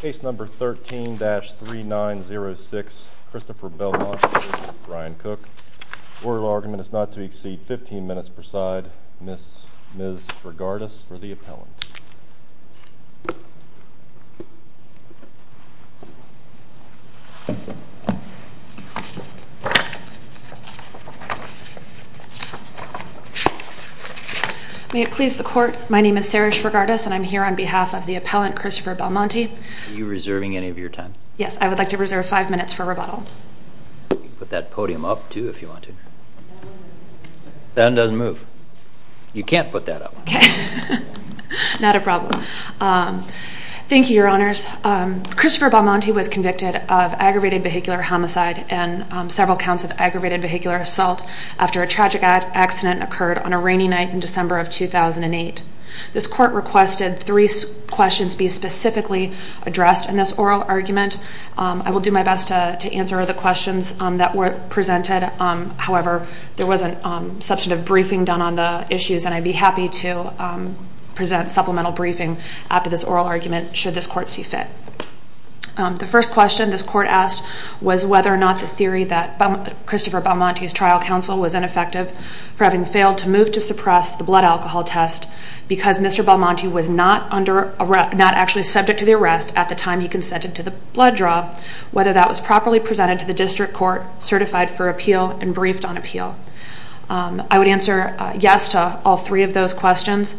Case number 13-3906, Christopher Belmont v. Brian Cook. Order of argument is not to exceed 15 minutes per side. Ms. Srigardas for the appellant. May it please the court, my name is Sarah Srigardas and I'm here on behalf of the appellant, Christopher Belmonte. Are you reserving any of your time? Yes, I would like to reserve five minutes for rebuttal. You can put that podium up, too, if you want to. That one doesn't move. You can't put that up. Okay. Not a problem. Thank you, Your Honors. Christopher Belmonte was convicted of aggravated vehicular homicide and several counts of aggravated vehicular assault after a tragic accident occurred on a rainy night in December of 2008. This court requested three questions be specifically addressed in this oral argument. I will do my best to answer the questions that were presented. However, there was a substantive briefing done on the issues and I'd be happy to present supplemental briefing after this oral argument should this court see fit. The first question this court asked was whether or not the theory that Christopher Belmonte's trial counsel was ineffective for having failed to move to suppress the blood alcohol test because Mr. Belmonte was not actually subject to the arrest at the time he consented to the blood draw, whether that was properly presented to the district court, certified for appeal, and briefed on appeal. I would answer yes to all three of those questions.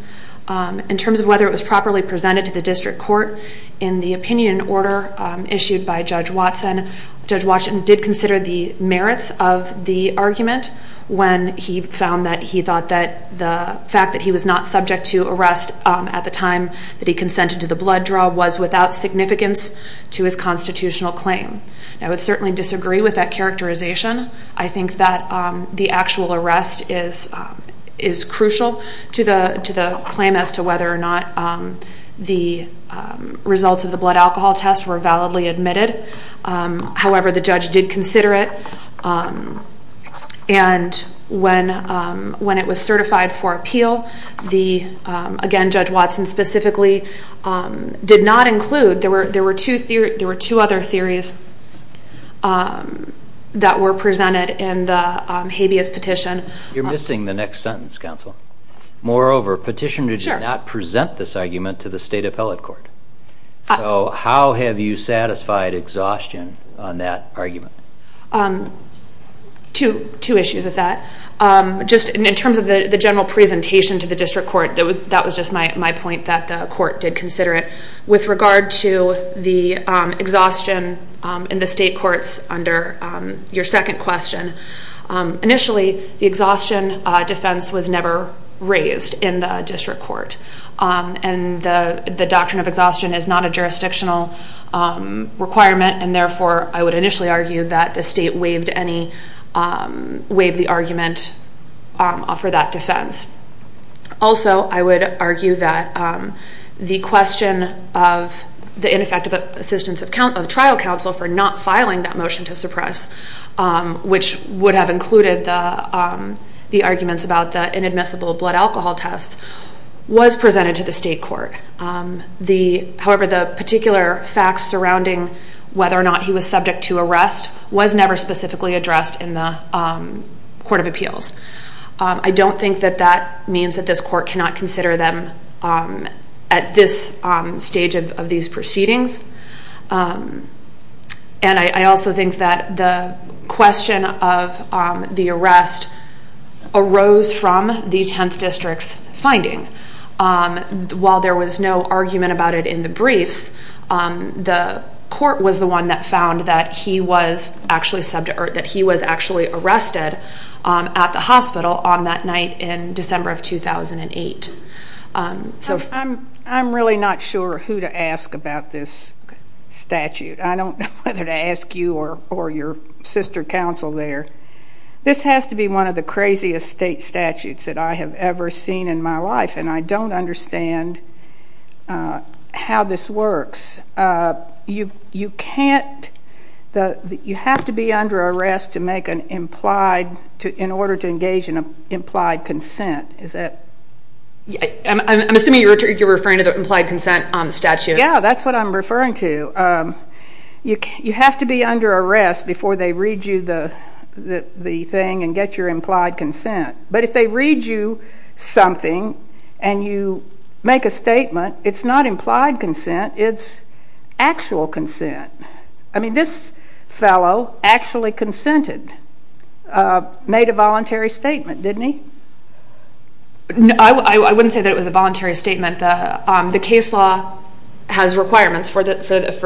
In terms of whether it was properly presented to the district court, in the opinion order issued by Judge Watson, Judge Watson did consider the merits of the argument when he found that he thought that the fact that he was not subject to arrest at the time that he consented to the blood draw was without significance to his constitutional claim. I would certainly disagree with that characterization. I think that the actual arrest is crucial to the claim as to whether or not the results of the blood alcohol test were validly admitted. However, the judge did consider it and when it was certified for appeal, again, Judge Watson specifically did not include, there were two other theories that were presented in the habeas petition. You're missing the next sentence, counsel. Moreover, petitioner did not present this argument to the state appellate court. So how have you satisfied exhaustion on that argument? Two issues with that. In terms of the general presentation to the district court, that was just my point that the court did consider it. With regard to the exhaustion in the state courts under your second question, initially the exhaustion defense was never raised in the district court and the doctrine of exhaustion is not a jurisdictional requirement and therefore I would initially argue that the state waived the argument for that defense. Also, I would argue that the question of the ineffective assistance of trial counsel for not filing that motion to suppress, which would have included the arguments about the inadmissible blood alcohol test, was presented to the state court. However, the particular facts surrounding whether or not he was subject to arrest was never specifically addressed in the court of appeals. I don't think that that means that this court cannot consider them at this stage of these proceedings. And I also think that the question of the arrest arose from the 10th district's finding. While there was no argument about it in the briefs, the court was the one that found that he was actually arrested at the hospital on that night in December of 2008. I'm really not sure who to ask about this statute. I don't know whether to ask you or your sister counsel there. This has to be one of the craziest state statutes that I have ever seen in my life and I don't understand how this works. You can't, you have to be under arrest to make an implied, in order to engage in an implied consent. Is that? I'm assuming you're referring to the implied consent on the statute. Yeah, that's what I'm referring to. You have to be under arrest before they read you the thing and get your implied consent. But if they read you something and you make a statement, it's not implied consent, it's actual consent. I mean this fellow actually consented, made a voluntary statement, didn't he? No, I wouldn't say that it was a voluntary statement. The case law has requirements for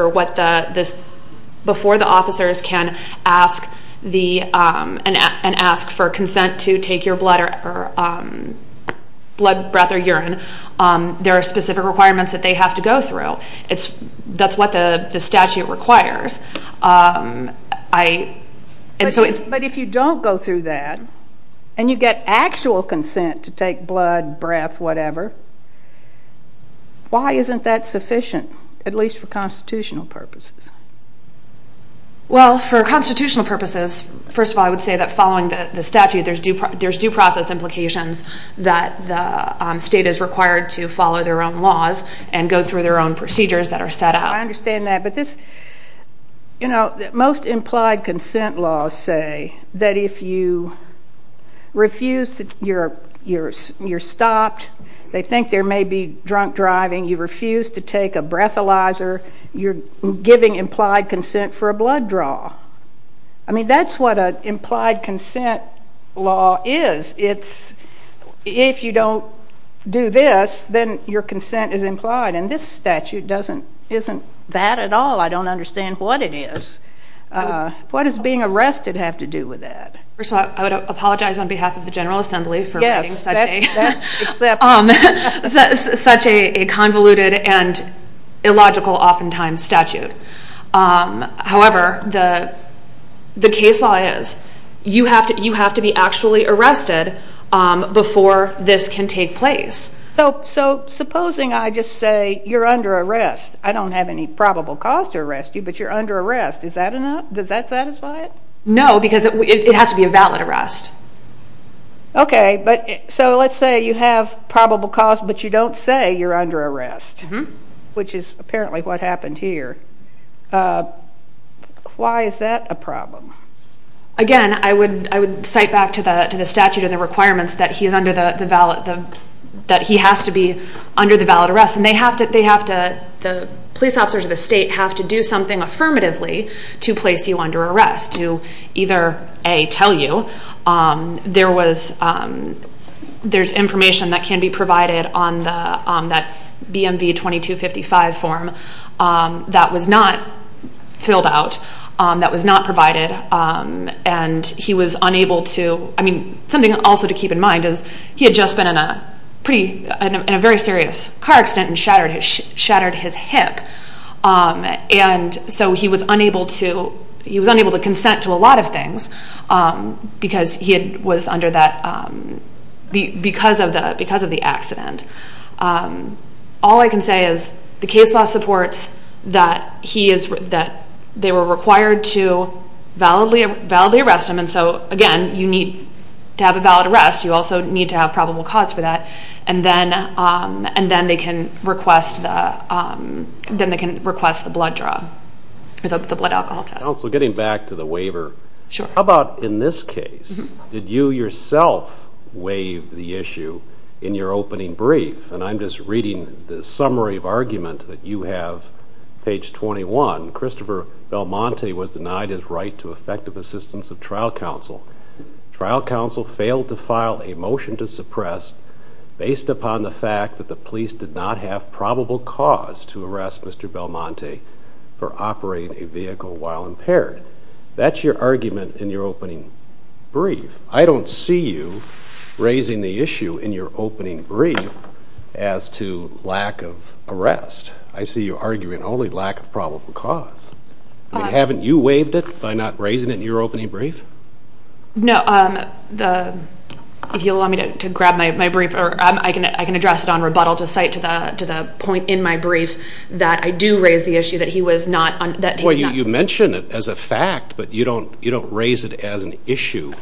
what the, before the officers can ask for consent to take your blood, breath or urine, there are specific requirements that they have to go through. That's what the statute requires. But if you don't go through that and you get actual consent to take blood, breath, whatever, why isn't that sufficient, at least for constitutional purposes? Well, for constitutional purposes, first of all I would say that following the statute there's due process implications that the state is required to follow their own laws and go through their own procedures that are set out. I understand that, but this, you know, most implied consent laws say that if you refuse, you're stopped, they think there may be drunk driving, you refuse to take a breathalyzer, you're giving implied consent for a blood draw. I mean that's what an implied consent law is. It's, if you don't do this, then your consent is implied and this statute doesn't, isn't that at all. I don't understand what it is. What does being arrested have to do with that? First of all, I would apologize on behalf of the General Assembly for writing such a convoluted and illogical oftentimes statute. However, the case law is you have to be actually arrested before this can take place. So supposing I just say you're under arrest. I don't have any probable cause to arrest you, but you're under arrest. Is that enough? Does that satisfy it? No, because it has to be a valid arrest. Okay, but so let's say you have probable cause, but you don't say you're under arrest, which is apparently what happened here. Why is that a problem? Again, I would cite back to the statute and the requirements that he has to be under the valid arrest. And they have to, the police officers of the state have to do something affirmatively to place you under arrest. He has to either, A, tell you there's information that can be provided on that BMV 2255 form that was not filled out, that was not provided, and he was unable to, I mean, something also to keep in mind is he had just been in a very serious car accident and shattered his hip. And so he was unable to, he was unable to consent to a lot of things because he was under that, because of the accident. All I can say is the case law supports that he is, that they were required to validly arrest him. And so, again, you need to have a valid arrest. You also need to have probable cause for that. And then, and then they can request the, then they can request the blood draw, the blood alcohol test. Counsel, getting back to the waiver, how about in this case? Did you yourself waive the issue in your opening brief? And I'm just reading the summary of argument that you have, page 21. Christopher Belmonte was denied his right to effective assistance of trial counsel. Trial counsel failed to file a motion to suppress based upon the fact that the police did not have probable cause to arrest Mr. Belmonte for operating a vehicle while impaired. That's your argument in your opening brief. I don't see you raising the issue in your opening brief as to lack of arrest. I see you arguing only lack of probable cause. I mean, haven't you waived it by not raising it in your opening brief? No, the, if you'll allow me to grab my brief, I can address it on rebuttal to cite to the point in my brief that I do raise the issue that he was not, that he was not. You mention it as a fact, but you don't raise it as an issue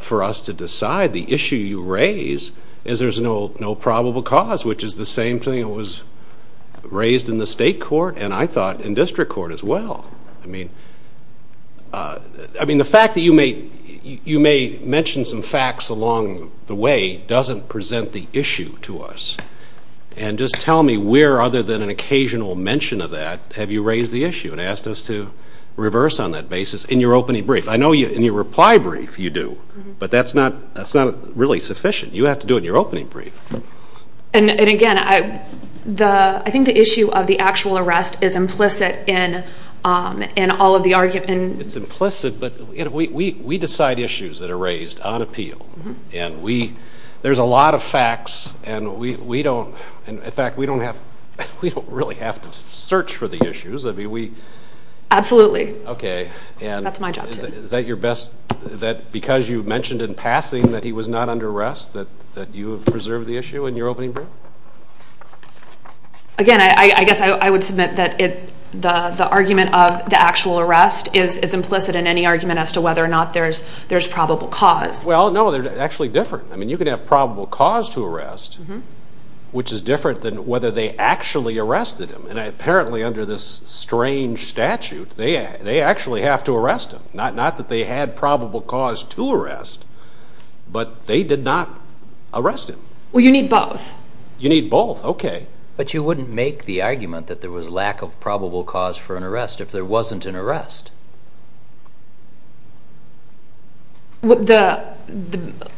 for us to decide. The issue you raise is there's no probable cause, which is the same thing that was raised in the state court and I thought in district court as well. I mean, the fact that you may mention some facts along the way doesn't present the issue to us and just tell me where other than an occasional mention of that have you raised the issue and asked us to reverse on that basis in your opening brief. I know in your reply brief you do, but that's not really sufficient. You have to do it in your opening brief. And again, I think the issue of the actual arrest is implicit in all of the arguments. It's implicit, but we decide issues that are raised on appeal and we, there's a lot of facts and we don't, in fact, we don't have, we don't really have to search for the issues. Absolutely. Okay. That's my job too. Is that your best, that because you mentioned in passing that he was not under arrest that you have preserved the issue in your opening brief? Again, I guess I would submit that the argument of the actual arrest is implicit in any argument as to whether or not there's probable cause. Well, no, they're actually different. I mean, you can have probable cause to arrest, which is different than whether they actually arrested him. And apparently under this strange statute, they actually have to arrest him. Not that they had probable cause to arrest, but they did not arrest him. Well, you need both. You need both. Okay. But you wouldn't make the argument that there was lack of probable cause for an arrest if there wasn't an arrest. The,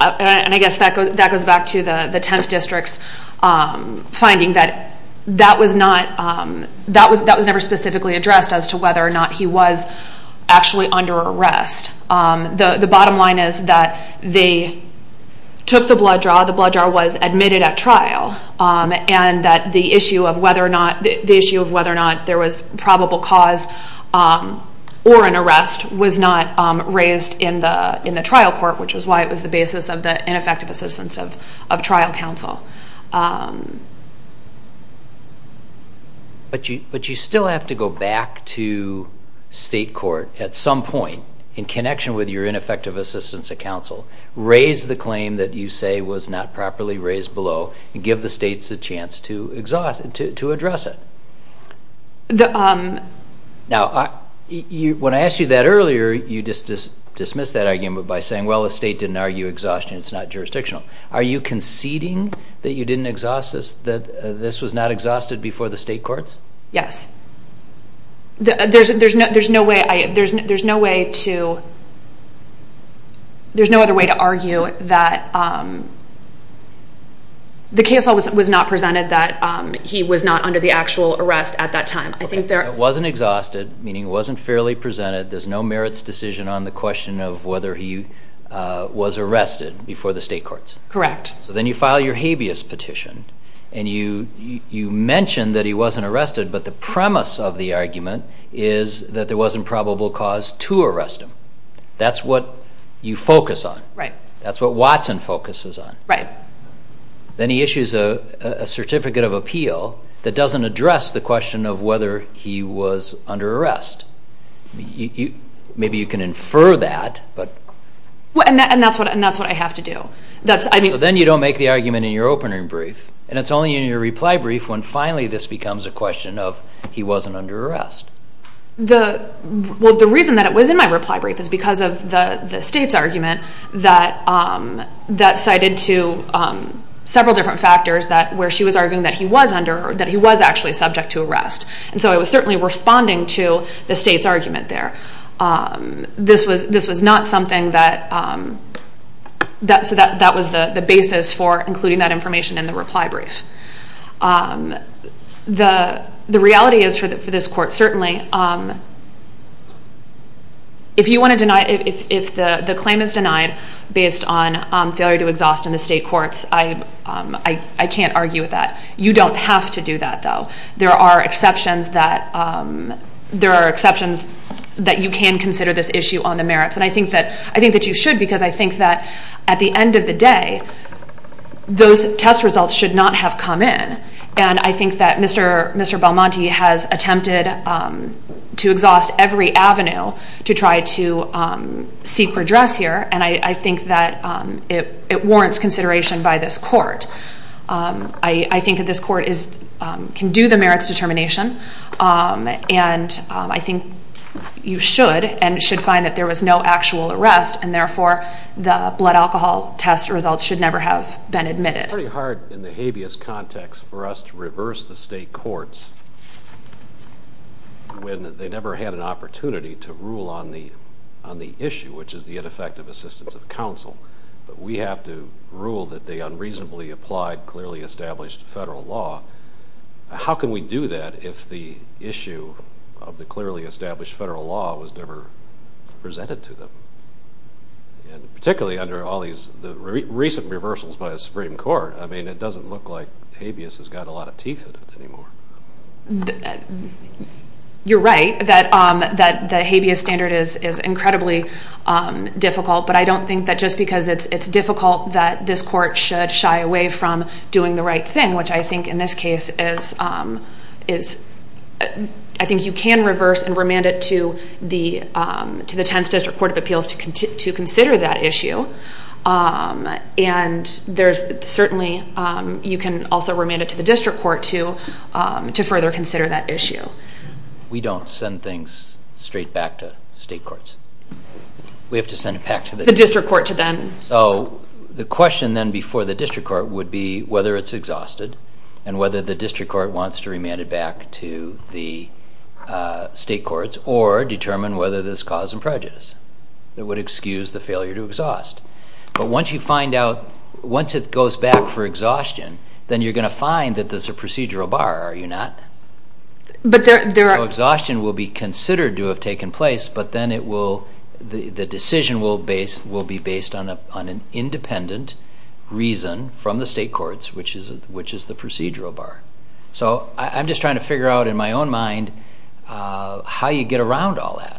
and I guess that goes back to the 10th District's finding that that was not, that was never specifically addressed as to whether or not he was actually under arrest. The bottom line is that they took the blood draw. The blood draw was admitted at trial and that the issue of whether or not, the issue of whether or not there was probable cause or an arrest was not raised in the trial court, which is why it was the basis of the ineffective assistance of trial counsel. But you, but you still have to go back to state court at some point in connection with your ineffective assistance of counsel, raise the claim that you say was not properly raised below and give the states a chance to exhaust, to address it. Now, when I asked you that earlier, you just dismissed that argument by saying, well, the state didn't argue exhaustion. It's not jurisdictional. Are you conceding that you didn't exhaust this, that this was not exhausted before the state courts? Yes. There's, there's no, there's no way I, there's, there's no way to, there's no other way to argue that the case was not presented that he was not under the actual arrest at that time. It wasn't exhausted, meaning it wasn't fairly presented. There's no merits decision on the question of whether he was arrested before the state courts. Correct. So then you file your habeas petition and you, you mentioned that he wasn't arrested, but the premise of the argument is that there wasn't probable cause to arrest him. That's what you focus on. Right. That's what Watson focuses on. Right. Then he issues a certificate of appeal that doesn't address the question of whether he was under arrest. You, maybe you can infer that, but. And that's what, and that's what I have to do. That's, I mean. So then you don't make the argument in your opening brief. And it's only in your reply brief when finally this becomes a question of he wasn't under arrest. The, well the reason that it was in my reply brief is because of the state's argument that, that cited to several different factors that, where she was arguing that he was under, that he was actually subject to arrest. And so it was certainly responding to the state's argument there. This was, this was not something that, that, so that, that was the basis for including that information in the reply brief. The, the reality is for this court certainly, if you want to deny, if the claim is denied based on failure to exhaust in the state courts, I, I can't argue with that. You don't have to do that though. There are exceptions that, there are exceptions that you can consider this issue on the merits. And I think that, I think that you should because I think that at the end of the day, those test results should not have come in. And I think that Mr., Mr. Belmonte has attempted to exhaust every avenue to try to seek redress here. And I, I think that it, it warrants consideration by this court. I, I think that this court is, can do the merits determination. And I think you should and should find that there was no actual arrest and therefore the blood alcohol test results should never have been admitted. It's pretty hard in the habeas context for us to reverse the state courts when they never had an opportunity to rule on the, on the issue, which is the ineffective assistance of counsel. But we have to rule that they unreasonably applied clearly established federal law. How can we do that if the issue of the clearly established federal law was never presented to them? And particularly under all these, the recent reversals by the Supreme Court. I mean it doesn't look like habeas has got a lot of teeth in it anymore. You're right that, that the habeas standard is, is incredibly difficult. But I don't think that just because it's, it's difficult that this court should shy away from doing the right thing. Which I think in this case is, is, I think you can reverse and remand it to the, to the 10th District Court of Appeals to consider that issue. And there's certainly, you can also remand it to the district court to, to further consider that issue. We don't send things straight back to state courts. We have to send it back to the... The district court to then... So the question then before the district court would be whether it's exhausted and whether the district court wants to remand it back to the state courts or determine whether there's cause and prejudice. That would excuse the failure to exhaust. But once you find out, once it goes back for exhaustion, then you're going to find that there's a procedural bar, are you not? But there are... So exhaustion will be considered to have taken place, but then it will, the decision will base, will be based on a, on an independent reason from the state courts, which is, which is the procedural bar. So I'm just trying to figure out in my own mind how you get around all that.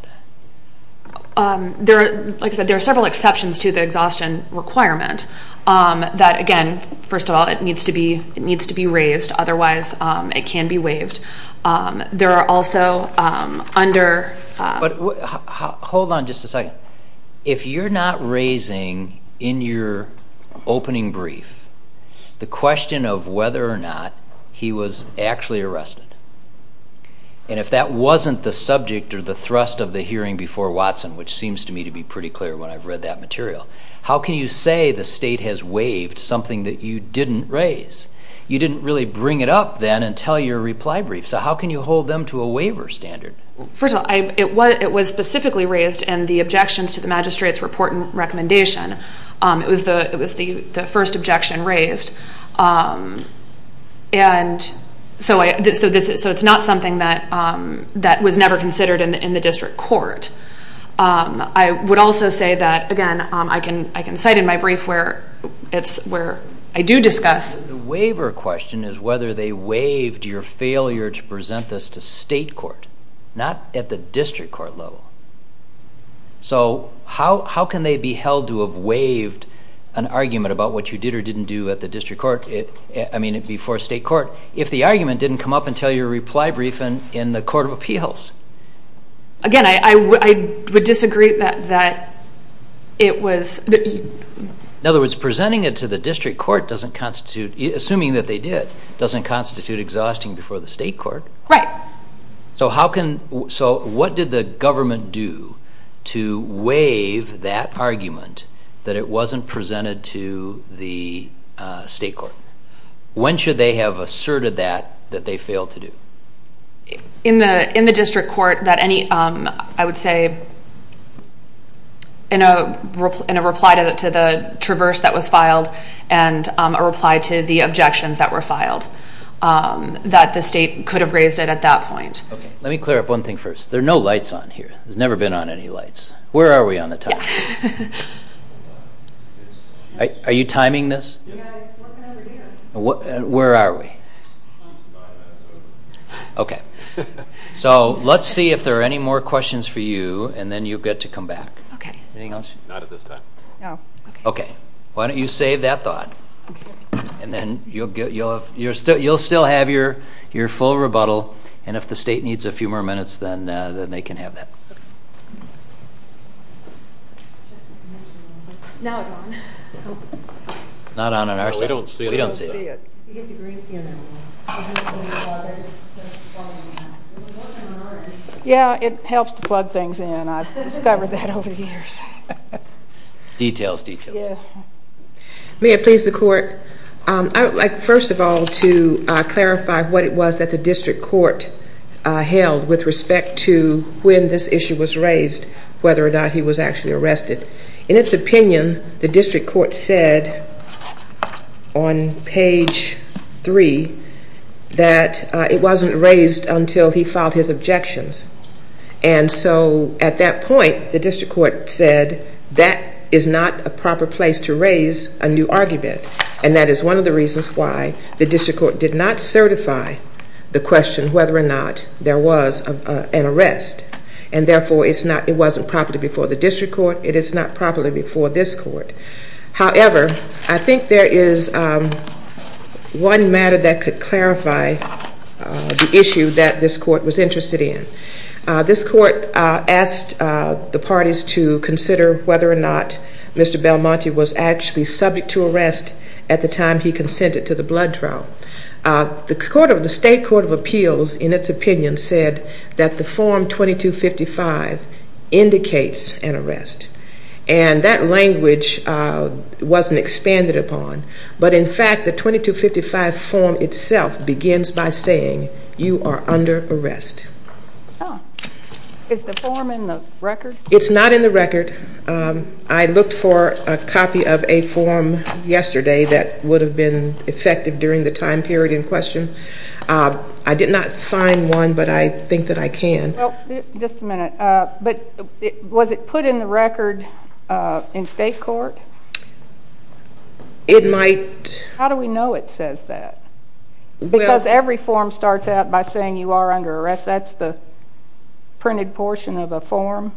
There are, like I said, there are several exceptions to the exhaustion requirement that, again, first of all, it needs to be, it needs to be raised. Otherwise, it can be waived. There are also under... But hold on just a second. But if you're not raising in your opening brief the question of whether or not he was actually arrested, and if that wasn't the subject or the thrust of the hearing before Watson, which seems to me to be pretty clear when I've read that material, how can you say the state has waived something that you didn't raise? You didn't really bring it up then until your reply brief. So how can you hold them to a waiver standard? First of all, it was specifically raised in the objections to the magistrate's report and recommendation. It was the first objection raised. And so it's not something that was never considered in the district court. I would also say that, again, I can cite in my brief where I do discuss... The waiver question is whether they waived your failure to present this to state court, not at the district court level. So how can they be held to have waived an argument about what you did or didn't do at the district court, I mean, before state court, if the argument didn't come up until your reply brief in the court of appeals? Again, I would disagree that it was... In other words, presenting it to the district court doesn't constitute, assuming that they did, doesn't constitute exhausting before the state court. Right. So what did the government do to waive that argument that it wasn't presented to the state court? When should they have asserted that, that they failed to do? In the district court, that any, I would say, in a reply to the traverse that was filed and a reply to the objections that were filed, that the state could have raised it at that point. Okay. Let me clear up one thing first. There are no lights on here. There's never been on any lights. Where are we on the time? Yeah. Are you timing this? Yeah, it's working over here. Where are we? Five minutes over. Okay. So let's see if there are any more questions for you, and then you'll get to come back. Okay. Anything else? Not at this time. No. Okay. Why don't you save that thought? Okay. And then you'll get, you'll have, you'll still have your full rebuttal, and if the state needs a few more minutes, then they can have that. Now it's on. It's not on on our side. We don't see it. We don't see it. You have to bring it in. Yeah, it helps to plug things in. I've discovered that over the years. Details, details. Yeah. May it please the court, I would like first of all to clarify what it was that the district court held with respect to when this issue was raised, whether or not he was actually arrested. In its opinion, the district court said on page three that it wasn't raised until he filed his objections. And so at that point, the district court said that is not a proper place to raise a new argument, and that is one of the reasons why the district court did not certify the question whether or not there was an arrest. And therefore, it's not, it wasn't properly before the district court. It is not properly before this court. However, I think there is one matter that could clarify the issue that this court was interested in. This court asked the parties to consider whether or not Mr. Belmonte was actually subject to arrest at the time he consented to the blood trial. The state court of appeals in its opinion said that the form 2255 indicates an arrest. And that language wasn't expanded upon. But in fact, the 2255 form itself begins by saying you are under arrest. Is the form in the record? It's not in the record. I looked for a copy of a form yesterday that would have been effective during the time period in question. I did not find one, but I think that I can. Just a minute. But was it put in the record in state court? It might. How do we know it says that? Because every form starts out by saying you are under arrest. That's the printed portion of a form?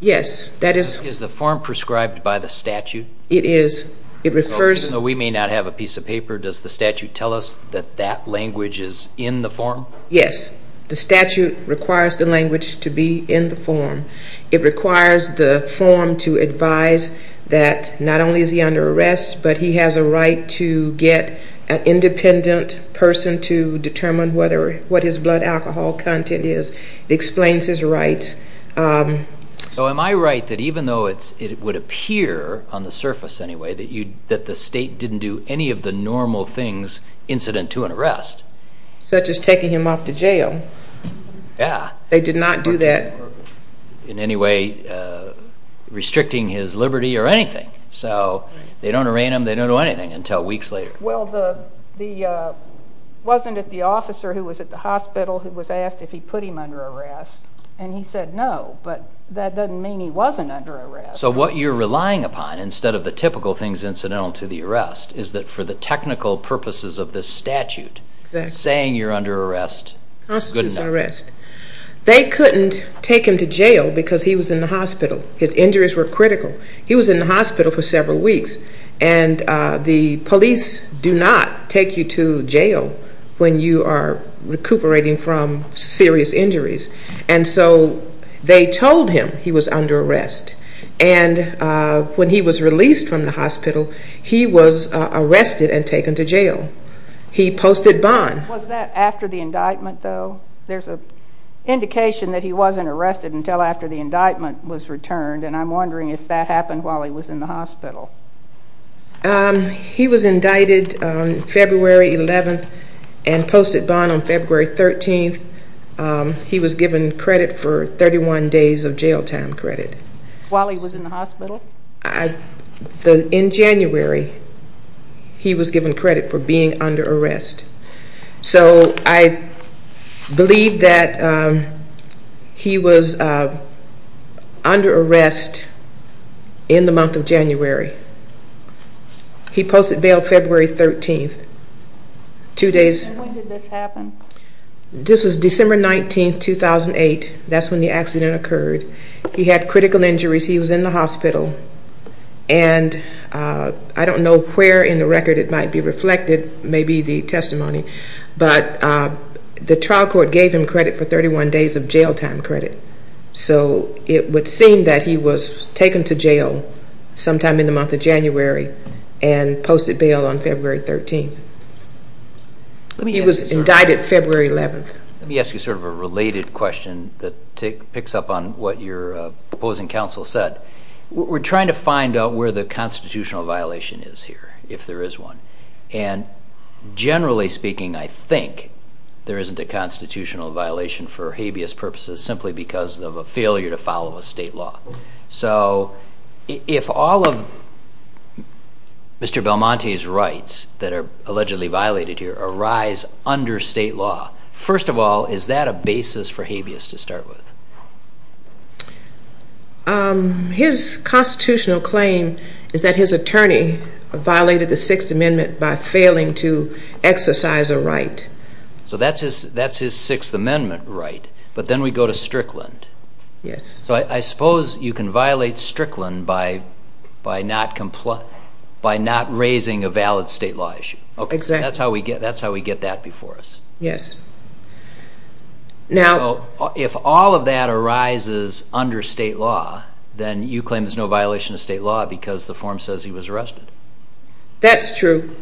Yes. Is the form prescribed by the statute? It is. Even though we may not have a piece of paper, does the statute tell us that that language is in the form? Yes. The statute requires the language to be in the form. It requires the form to advise that not only is he under arrest, but he has a right to get an independent person to determine what his blood alcohol content is. It explains his rights. So am I right that even though it would appear on the surface anyway that the state didn't do any of the normal things incident to an arrest? Such as taking him off to jail. Yeah. They did not do that. In any way restricting his liberty or anything. So they don't arraign him, they don't do anything until weeks later. Well, it wasn't the officer who was at the hospital who was asked if he put him under arrest. And he said no, but that doesn't mean he wasn't under arrest. So what you're relying upon instead of the typical things incidental to the arrest is that for the technical purposes of this statute, saying you're under arrest... Constitutes arrest. They couldn't take him to jail because he was in the hospital. His injuries were critical. He was in the hospital for several weeks. And the police do not take you to jail when you are recuperating from serious injuries. And so they told him he was under arrest. And when he was released from the hospital, he was arrested and taken to jail. He posted bond. Was that after the indictment though? There's an indication that he wasn't arrested until after the indictment was returned. And I'm wondering if that happened while he was in the hospital. He was indicted February 11th and posted bond on February 13th. He was given credit for 31 days of jail time credit. While he was in the hospital? In January, he was given credit for being under arrest. So I believe that he was under arrest in the month of January. He posted bail February 13th. And when did this happen? This was December 19th, 2008. That's when the accident occurred. He had critical injuries. He was in the hospital. And I don't know where in the record it might be reflected. Maybe the testimony. But the trial court gave him credit for 31 days of jail time credit. So it would seem that he was taken to jail sometime in the month of January and posted bail on February 13th. He was indicted February 11th. Let me ask you sort of a related question that picks up on what your opposing counsel said. We're trying to find out where the constitutional violation is here, if there is one. And generally speaking, I think there isn't a constitutional violation for habeas purposes simply because of a failure to follow a state law. So if all of Mr. Belmonte's rights that are allegedly violated here arise under state law, first of all, is that a basis for habeas to start with? His constitutional claim is that his attorney violated the Sixth Amendment by failing to exercise a right. So that's his Sixth Amendment right, but then we go to Strickland. Yes. So I suppose you can violate Strickland by not raising a valid state law issue. Exactly. That's how we get that before us. Yes. So if all of that arises under state law, then you claim there's no violation of state law because the form says he was arrested. That's true.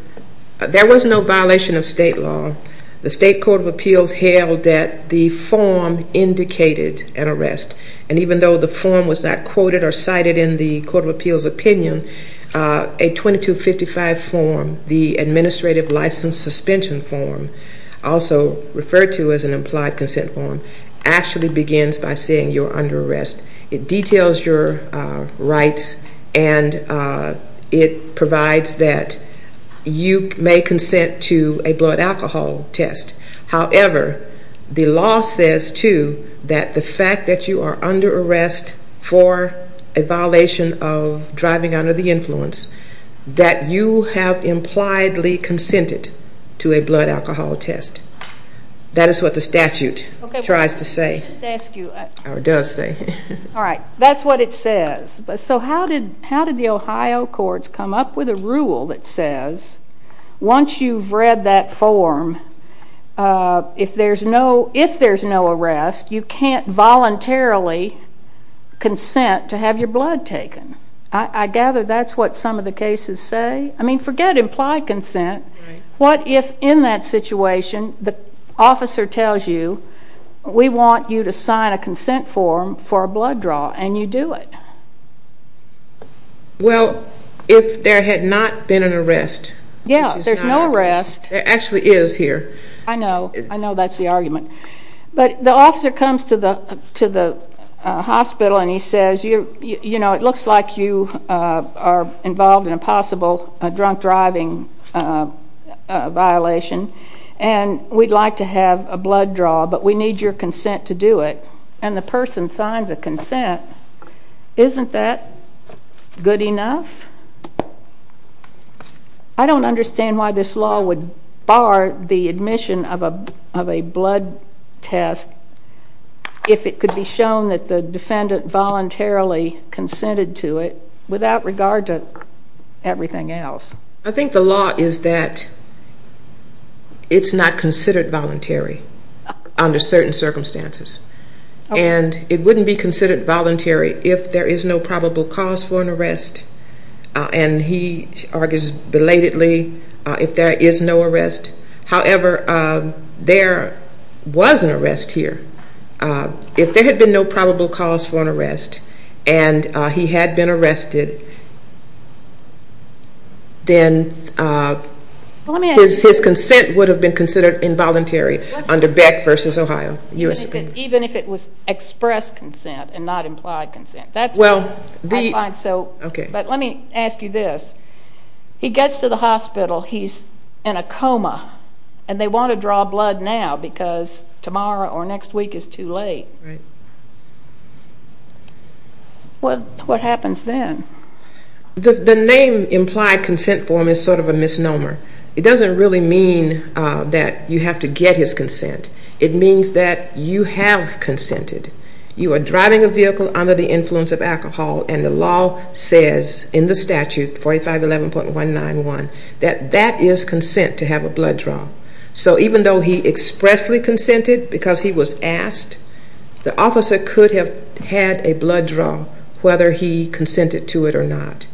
There was no violation of state law. The State Court of Appeals held that the form indicated an arrest, and even though the form was not quoted or cited in the Court of Appeals opinion, a 2255 form, the Administrative License Suspension form, also referred to as an implied consent form, actually begins by saying you're under arrest. It details your rights, and it provides that you may consent to a blood alcohol test. However, the law says, too, that the fact that you are under arrest for a violation of driving under the influence, that you have impliedly consented to a blood alcohol test. That is what the statute tries to say or does say. All right. That's what it says. So how did the Ohio courts come up with a rule that says once you've read that form, if there's no arrest, you can't voluntarily consent to have your blood taken? I gather that's what some of the cases say. I mean, forget implied consent. What if in that situation the officer tells you, we want you to sign a consent form for a blood draw, and you do it? Well, if there had not been an arrest. Yeah, there's no arrest. There actually is here. I know. I know that's the argument. But the officer comes to the hospital, and he says, you know, it looks like you are involved in a possible drunk driving violation, and we'd like to have a blood draw, but we need your consent to do it. And the person signs a consent. Isn't that good enough? I don't understand why this law would bar the admission of a blood test if it could be shown that the defendant voluntarily consented to it without regard to everything else. I think the law is that it's not considered voluntary under certain circumstances. And it wouldn't be considered voluntary if there is no probable cause for an arrest. And he argues belatedly if there is no arrest. However, there was an arrest here. If there had been no probable cause for an arrest and he had been arrested, then his consent would have been considered involuntary under Beck v. Ohio. Even if it was expressed consent and not implied consent. I find so. But let me ask you this. He gets to the hospital. He's in a coma, and they want to draw blood now because tomorrow or next week is too late. Right. What happens then? The name implied consent form is sort of a misnomer. It doesn't really mean that you have to get his consent. It means that you have consented. You are driving a vehicle under the influence of alcohol, and the law says in the statute, 4511.191, that that is consent to have a blood draw. So even though he expressly consented because he was asked, the officer could have had a blood draw whether he consented to it or not.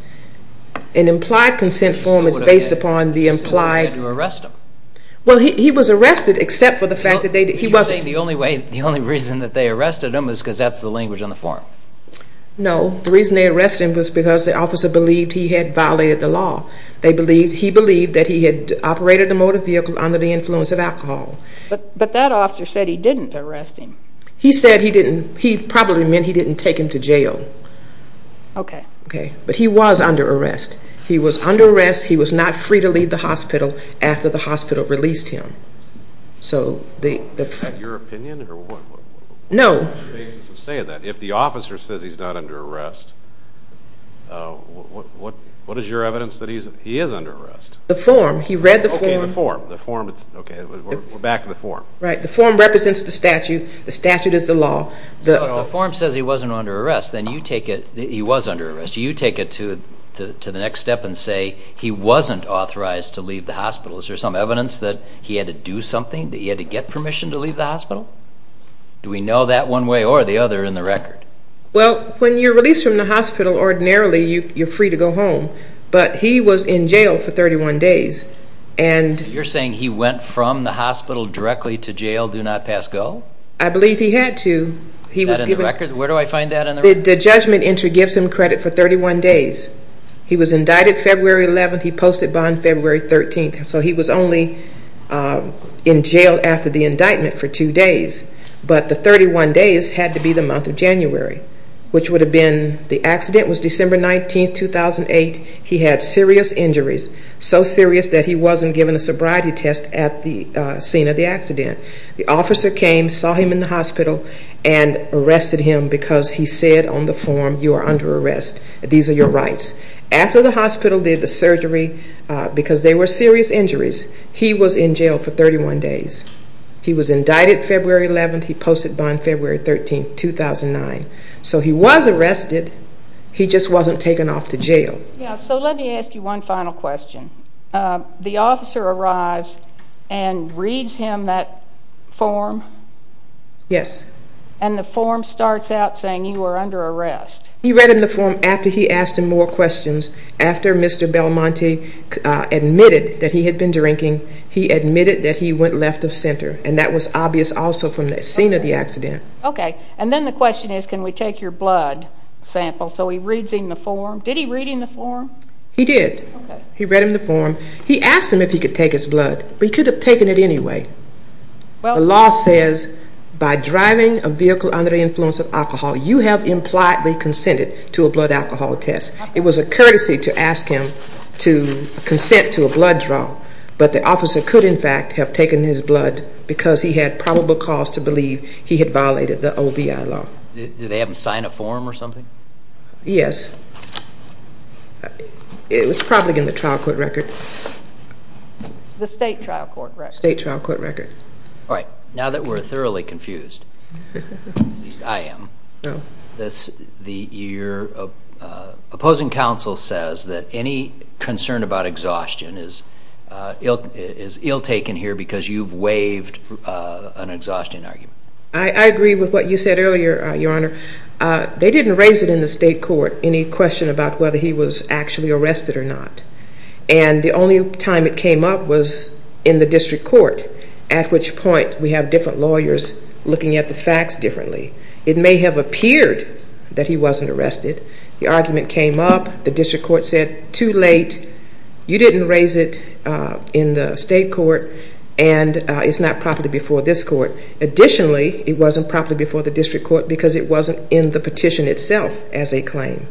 An implied consent form is based upon the implied. Well, he was arrested except for the fact that he wasn't. Are you saying the only reason that they arrested him is because that's the language on the form? No. The reason they arrested him was because the officer believed he had violated the law. He believed that he had operated a motor vehicle under the influence of alcohol. But that officer said he didn't arrest him. He said he didn't. He probably meant he didn't take him to jail. Okay. Okay. But he was under arrest. He was under arrest. He was not free to leave the hospital after the hospital released him. So the ---- Is that your opinion or what? No. On the basis of saying that, if the officer says he's not under arrest, what is your evidence that he is under arrest? The form. He read the form. Okay, the form. We're back to the form. Right. The form represents the statute. The statute is the law. So if the form says he wasn't under arrest, then you take it that he was under arrest. Mr. You take it to the next step and say he wasn't authorized to leave the hospital. Is there some evidence that he had to do something, that he had to get permission to leave the hospital? Do we know that one way or the other in the record? Well, when you're released from the hospital, ordinarily you're free to go home. But he was in jail for 31 days. You're saying he went from the hospital directly to jail, do not pass go? I believe he had to. Is that in the record? Where do I find that in the record? The judgment entry gives him credit for 31 days. He was indicted February 11th. He posted bond February 13th. So he was only in jail after the indictment for two days. But the 31 days had to be the month of January, which would have been the accident was December 19th, 2008. He had serious injuries, so serious that he wasn't given a sobriety test at the scene of the accident. The officer came, saw him in the hospital, and arrested him because he said on the form, you are under arrest, these are your rights. After the hospital did the surgery, because they were serious injuries, he was in jail for 31 days. He was indicted February 11th. He posted bond February 13th, 2009. So he was arrested. He just wasn't taken off to jail. So let me ask you one final question. The officer arrives and reads him that form? Yes. And the form starts out saying you are under arrest. He read him the form after he asked him more questions. After Mr. Belmonte admitted that he had been drinking, he admitted that he went left of center. And that was obvious also from the scene of the accident. Okay. And then the question is can we take your blood sample? So he reads him the form. Did he read him the form? He did. He read him the form. He asked him if he could take his blood, but he could have taken it anyway. The law says by driving a vehicle under the influence of alcohol, you have impliedly consented to a blood alcohol test. It was a courtesy to ask him to consent to a blood draw, but the officer could, in fact, have taken his blood because he had probable cause to believe he had violated the OBI law. Did they have him sign a form or something? Yes. It was probably in the trial court record. The state trial court record? State trial court record. All right. Now that we're thoroughly confused, at least I am, your opposing counsel says that any concern about exhaustion is ill-taken here because you've waived an exhaustion argument. I agree with what you said earlier, Your Honor. They didn't raise it in the state court, any question about whether he was actually arrested or not, and the only time it came up was in the district court, at which point we have different lawyers looking at the facts differently. It may have appeared that he wasn't arrested. The argument came up. The district court said too late. You didn't raise it in the state court, and it's not properly before this court. Additionally, it wasn't properly before the district court because it wasn't in the petition itself as a claim.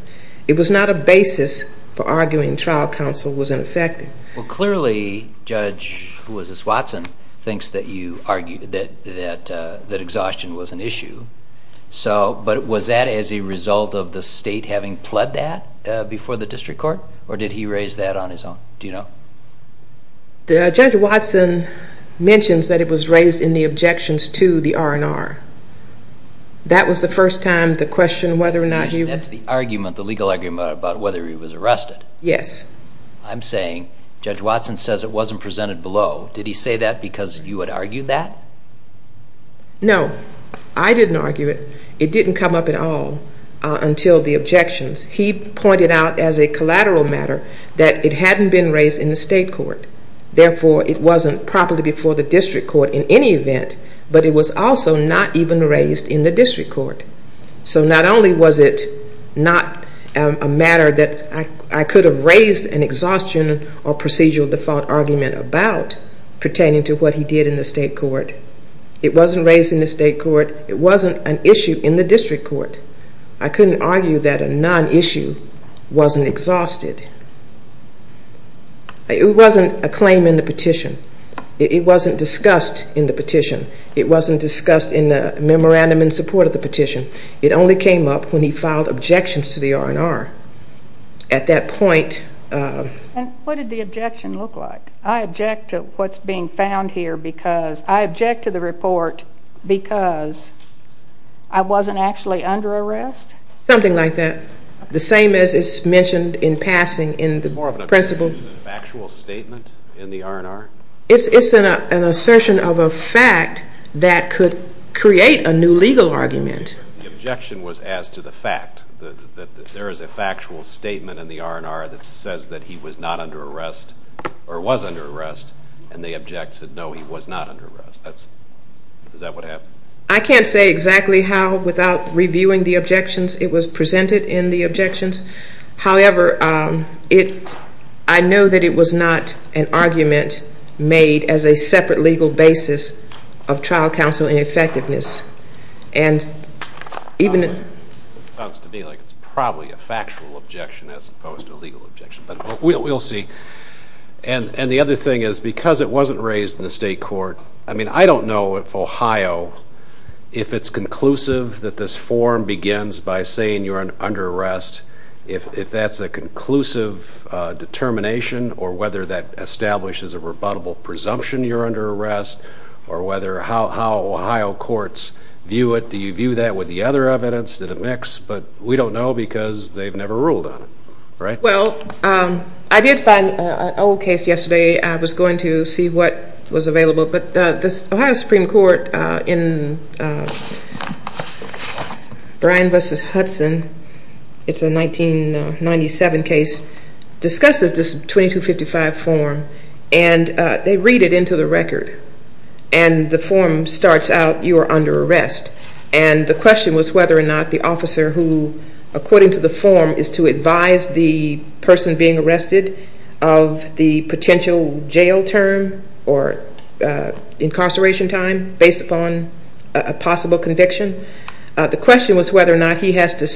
It was not a basis for arguing trial counsel was ineffective. Well, clearly Judge Watson thinks that exhaustion was an issue, but was that as a result of the state having pled that before the district court, or did he raise that on his own? Do you know? Judge Watson mentions that it was raised in the objections to the R&R. That was the first time the question whether or not he was. That's the argument, the legal argument about whether he was arrested. Yes. I'm saying Judge Watson says it wasn't presented below. Did he say that because you had argued that? No, I didn't argue it. It didn't come up at all until the objections. He pointed out as a collateral matter that it hadn't been raised in the state court. Therefore, it wasn't properly before the district court in any event, but it was also not even raised in the district court. So not only was it not a matter that I could have raised an exhaustion or procedural default argument about pertaining to what he did in the state court, it wasn't raised in the state court. It wasn't an issue in the district court. I couldn't argue that a non-issue wasn't exhausted. It wasn't a claim in the petition. It wasn't discussed in the petition. It wasn't discussed in the memorandum in support of the petition. It only came up when he filed objections to the R&R. At that point... What did the objection look like? I object to what's being found here because I object to the report because I wasn't actually under arrest. Something like that. The same as is mentioned in passing in the principle... More of an objection than a factual statement in the R&R? It's an assertion of a fact that could create a new legal argument. The objection was as to the fact that there is a factual statement in the R&R that says that he was not under arrest or was under arrest, and the object said, no, he was not under arrest. Is that what happened? I can't say exactly how without reviewing the objections. It was presented in the objections. However, I know that it was not an argument made as a separate legal basis of trial counsel ineffectiveness. It sounds to me like it's probably a factual objection as opposed to a legal objection, but we'll see. The other thing is, because it wasn't raised in the state court, I don't know if Ohio, if it's conclusive that this form begins by saying you're under arrest, if that's a conclusive determination or whether that establishes a rebuttable presumption you're under arrest or how Ohio courts view it. Do you view that with the other evidence? Did it mix? But we don't know because they've never ruled on it. Well, I did find an old case yesterday. I was going to see what was available, but the Ohio Supreme Court in Bryan v. Hudson, it's a 1997 case, discusses this 2255 form, and they read it into the record, and the form starts out you are under arrest, and the question was whether or not the officer who, according to the form, is to advise the person being arrested of the potential jail term or incarceration time based upon a possible conviction. The question was whether or not he has to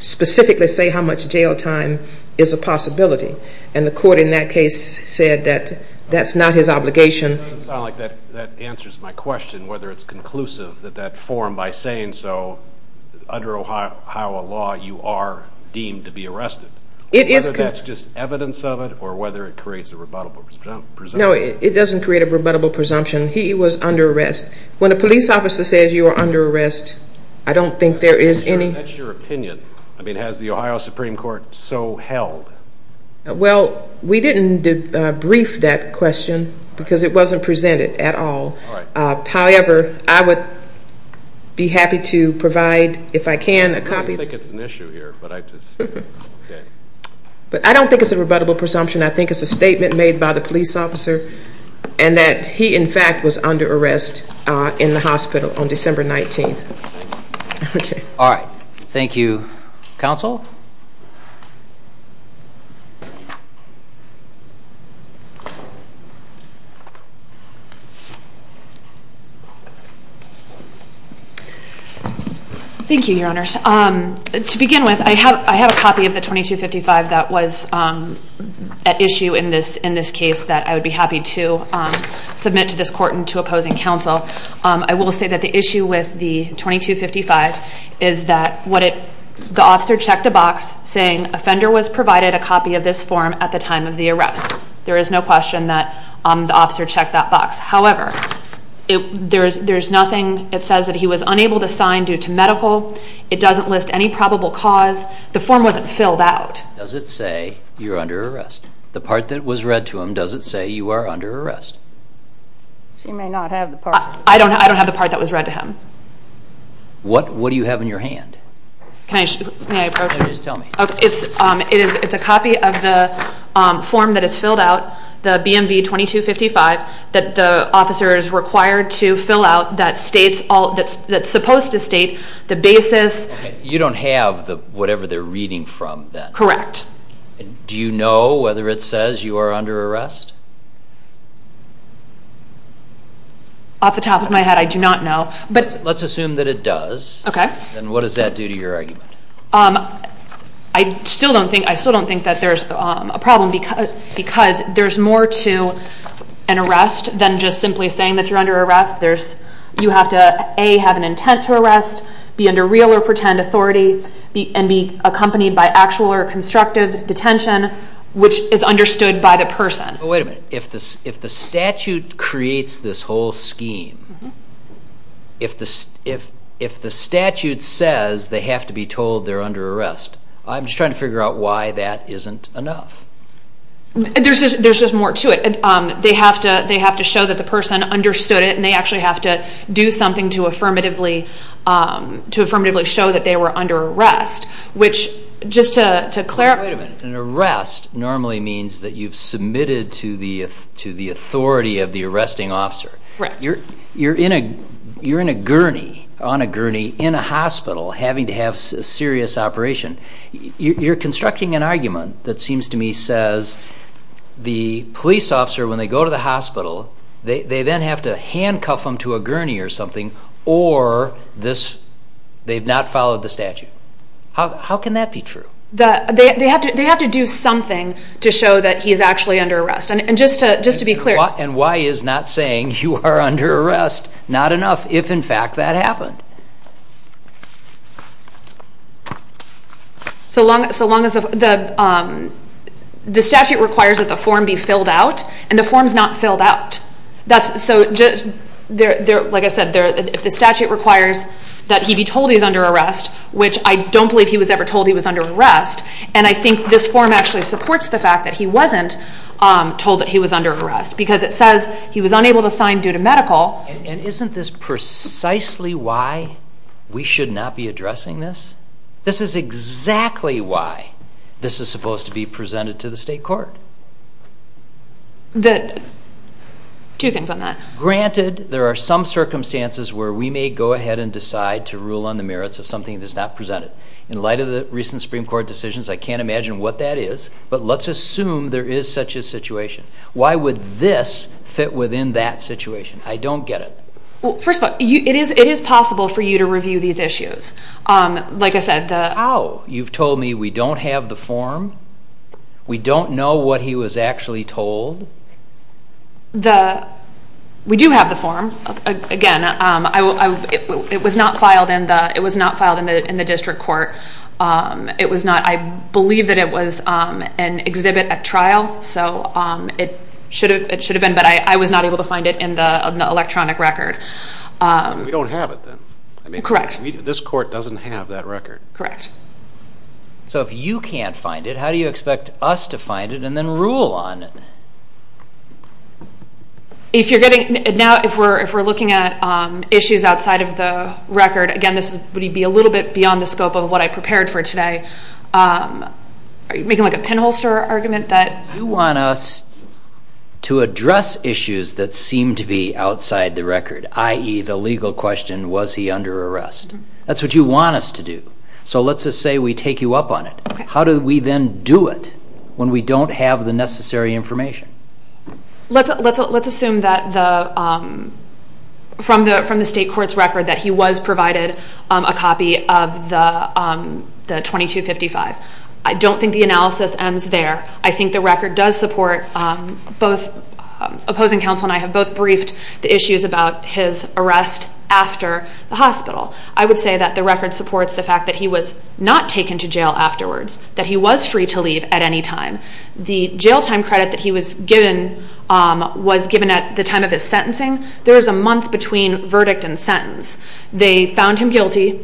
specifically say how much jail time is a possibility, and the court in that case said that that's not his obligation. It doesn't sound like that answers my question, whether it's conclusive that that form, by saying so, under Ohio law you are deemed to be arrested. Whether that's just evidence of it or whether it creates a rebuttable presumption. No, it doesn't create a rebuttable presumption. He was under arrest. When a police officer says you are under arrest, I don't think there is any. That's your opinion. I mean, has the Ohio Supreme Court so held? Well, we didn't debrief that question because it wasn't presented at all. However, I would be happy to provide, if I can, a copy. I don't think it's an issue here. I don't think it's a rebuttable presumption. I think it's a statement made by the police officer and that he, in fact, was under arrest in the hospital on December 19th. All right. Thank you. Counsel? Thank you, Your Honors. To begin with, I have a copy of the 2255 that was at issue in this case that I would be happy to submit to this court and to opposing counsel. I will say that the issue with the 2255 is that the officer checked a box saying offender was provided a copy of this form at the time of the arrest. There is no question that the officer checked that box. However, it says that he was unable to sign due to medical. It doesn't list any probable cause. The form wasn't filled out. Does it say you're under arrest? The part that was read to him, does it say you are under arrest? She may not have the part. I don't have the part that was read to him. What do you have in your hand? Can I approach you? Just tell me. It's a copy of the form that is filled out, the BMV 2255, that the officer is required to fill out that's supposed to state the basis. Okay. You don't have whatever they're reading from then? Correct. Do you know whether it says you are under arrest? Off the top of my head, I do not know. Let's assume that it does. Okay. Then what does that do to your argument? I still don't think that there's a problem because there's more to an arrest than just simply saying that you're under arrest. You have to, A, have an intent to arrest, be under real or pretend authority, and be accompanied by actual or constructive detention, which is understood by the person. Wait a minute. If the statute creates this whole scheme, if the statute says they have to be told they're under arrest, I'm just trying to figure out why that isn't enough. There's just more to it. They have to show that the person understood it, and they actually have to do something to affirmatively show that they were under arrest, which just to clarify. Wait a minute. An arrest normally means that you've submitted to the authority of the arresting officer. Correct. You're in a gurney, on a gurney, in a hospital having to have a serious operation. You're constructing an argument that seems to me says the police officer, when they go to the hospital, they then have to handcuff them to a gurney or something, or they've not followed the statute. How can that be true? They have to do something to show that he's actually under arrest. And just to be clear. And why is not saying you are under arrest not enough if, in fact, that happened? So long as the statute requires that the form be filled out, and the form's not filled out. Like I said, if the statute requires that he be told he's under arrest, which I don't believe he was ever told he was under arrest, and I think this form actually supports the fact that he wasn't told that he was under arrest, because it says he was unable to sign due to medical. And isn't this precisely why we should not be addressing this? This is exactly why this is supposed to be presented to the state court. Two things on that. Granted, there are some circumstances where we may go ahead and decide to rule on the merits of something that's not presented. In light of the recent Supreme Court decisions, I can't imagine what that is, but let's assume there is such a situation. Why would this fit within that situation? I don't get it. Well, first of all, it is possible for you to review these issues. Like I said, the ---- How? You've told me we don't have the form? We don't know what he was actually told? The ---- we do have the form. Again, it was not filed in the district court. It was not. I believe that it was an exhibit at trial, so it should have been, but I was not able to find it in the electronic record. We don't have it then. Correct. This court doesn't have that record. Correct. So if you can't find it, how do you expect us to find it and then rule on it? If you're getting ---- now if we're looking at issues outside of the record, again, this would be a little bit beyond the scope of what I prepared for today. Are you making like a pinholster argument that ---- You want us to address issues that seem to be outside the record, i.e., the legal question, was he under arrest? That's what you want us to do. So let's just say we take you up on it. How do we then do it when we don't have the necessary information? Let's assume that from the state court's record that he was provided a copy of the 2255. I don't think the analysis ends there. I think the record does support both opposing counsel and I have both briefed the issues about his arrest after the hospital. I would say that the record supports the fact that he was not taken to jail afterwards, that he was free to leave at any time. The jail time credit that he was given was given at the time of his sentencing. There is a month between verdict and sentence. They found him guilty,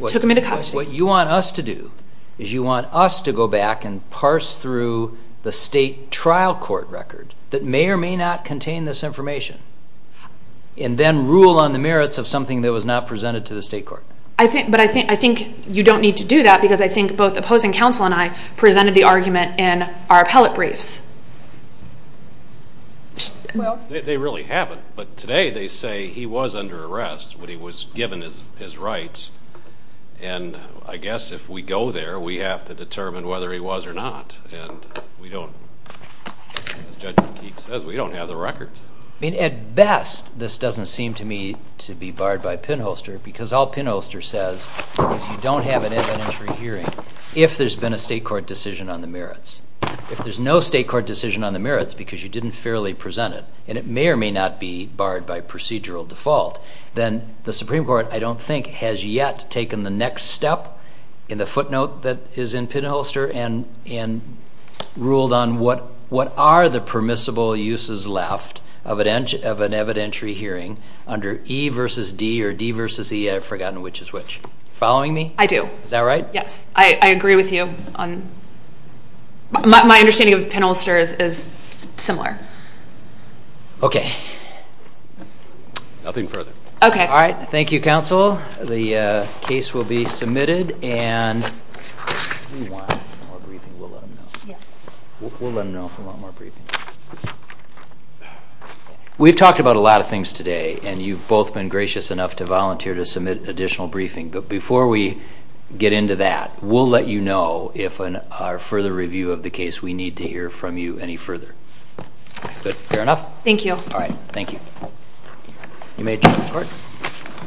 took him into custody. What you want us to do is you want us to go back and parse through the state trial court record that may or may not contain this information and then rule on the merits of something that was not presented to the state court. But I think you don't need to do that because I think both opposing counsel and I presented the argument in our appellate briefs. They really haven't. But today they say he was under arrest when he was given his rights and I guess if we go there we have to determine whether he was or not and we don't, as Judge McKeek says, we don't have the record. At best this doesn't seem to me to be barred by pinholster because all pinholster says is you don't have an evidentiary hearing if there's been a state court decision on the merits. If there's no state court decision on the merits because you didn't fairly present it and it may or may not be barred by procedural default, then the Supreme Court I don't think has yet taken the next step in the footnote that is in pinholster and ruled on what are the permissible uses left of an evidentiary hearing under E versus D or D versus E, I've forgotten which is which. Are you following me? I do. Is that right? Yes. I agree with you. My understanding of pinholster is similar. Okay. Nothing further. Okay. All right. Thank you, Counsel. The case will be submitted and we want more briefing. We'll let them know. Yeah. We'll let them know if we want more briefing. We've talked about a lot of things today and you've both been gracious enough to volunteer to submit additional briefing, but before we get into that, we'll let you know if in our further review of the case we need to hear from you any further. Good. Fair enough? Thank you. All right. Thank you. You may adjourn the court.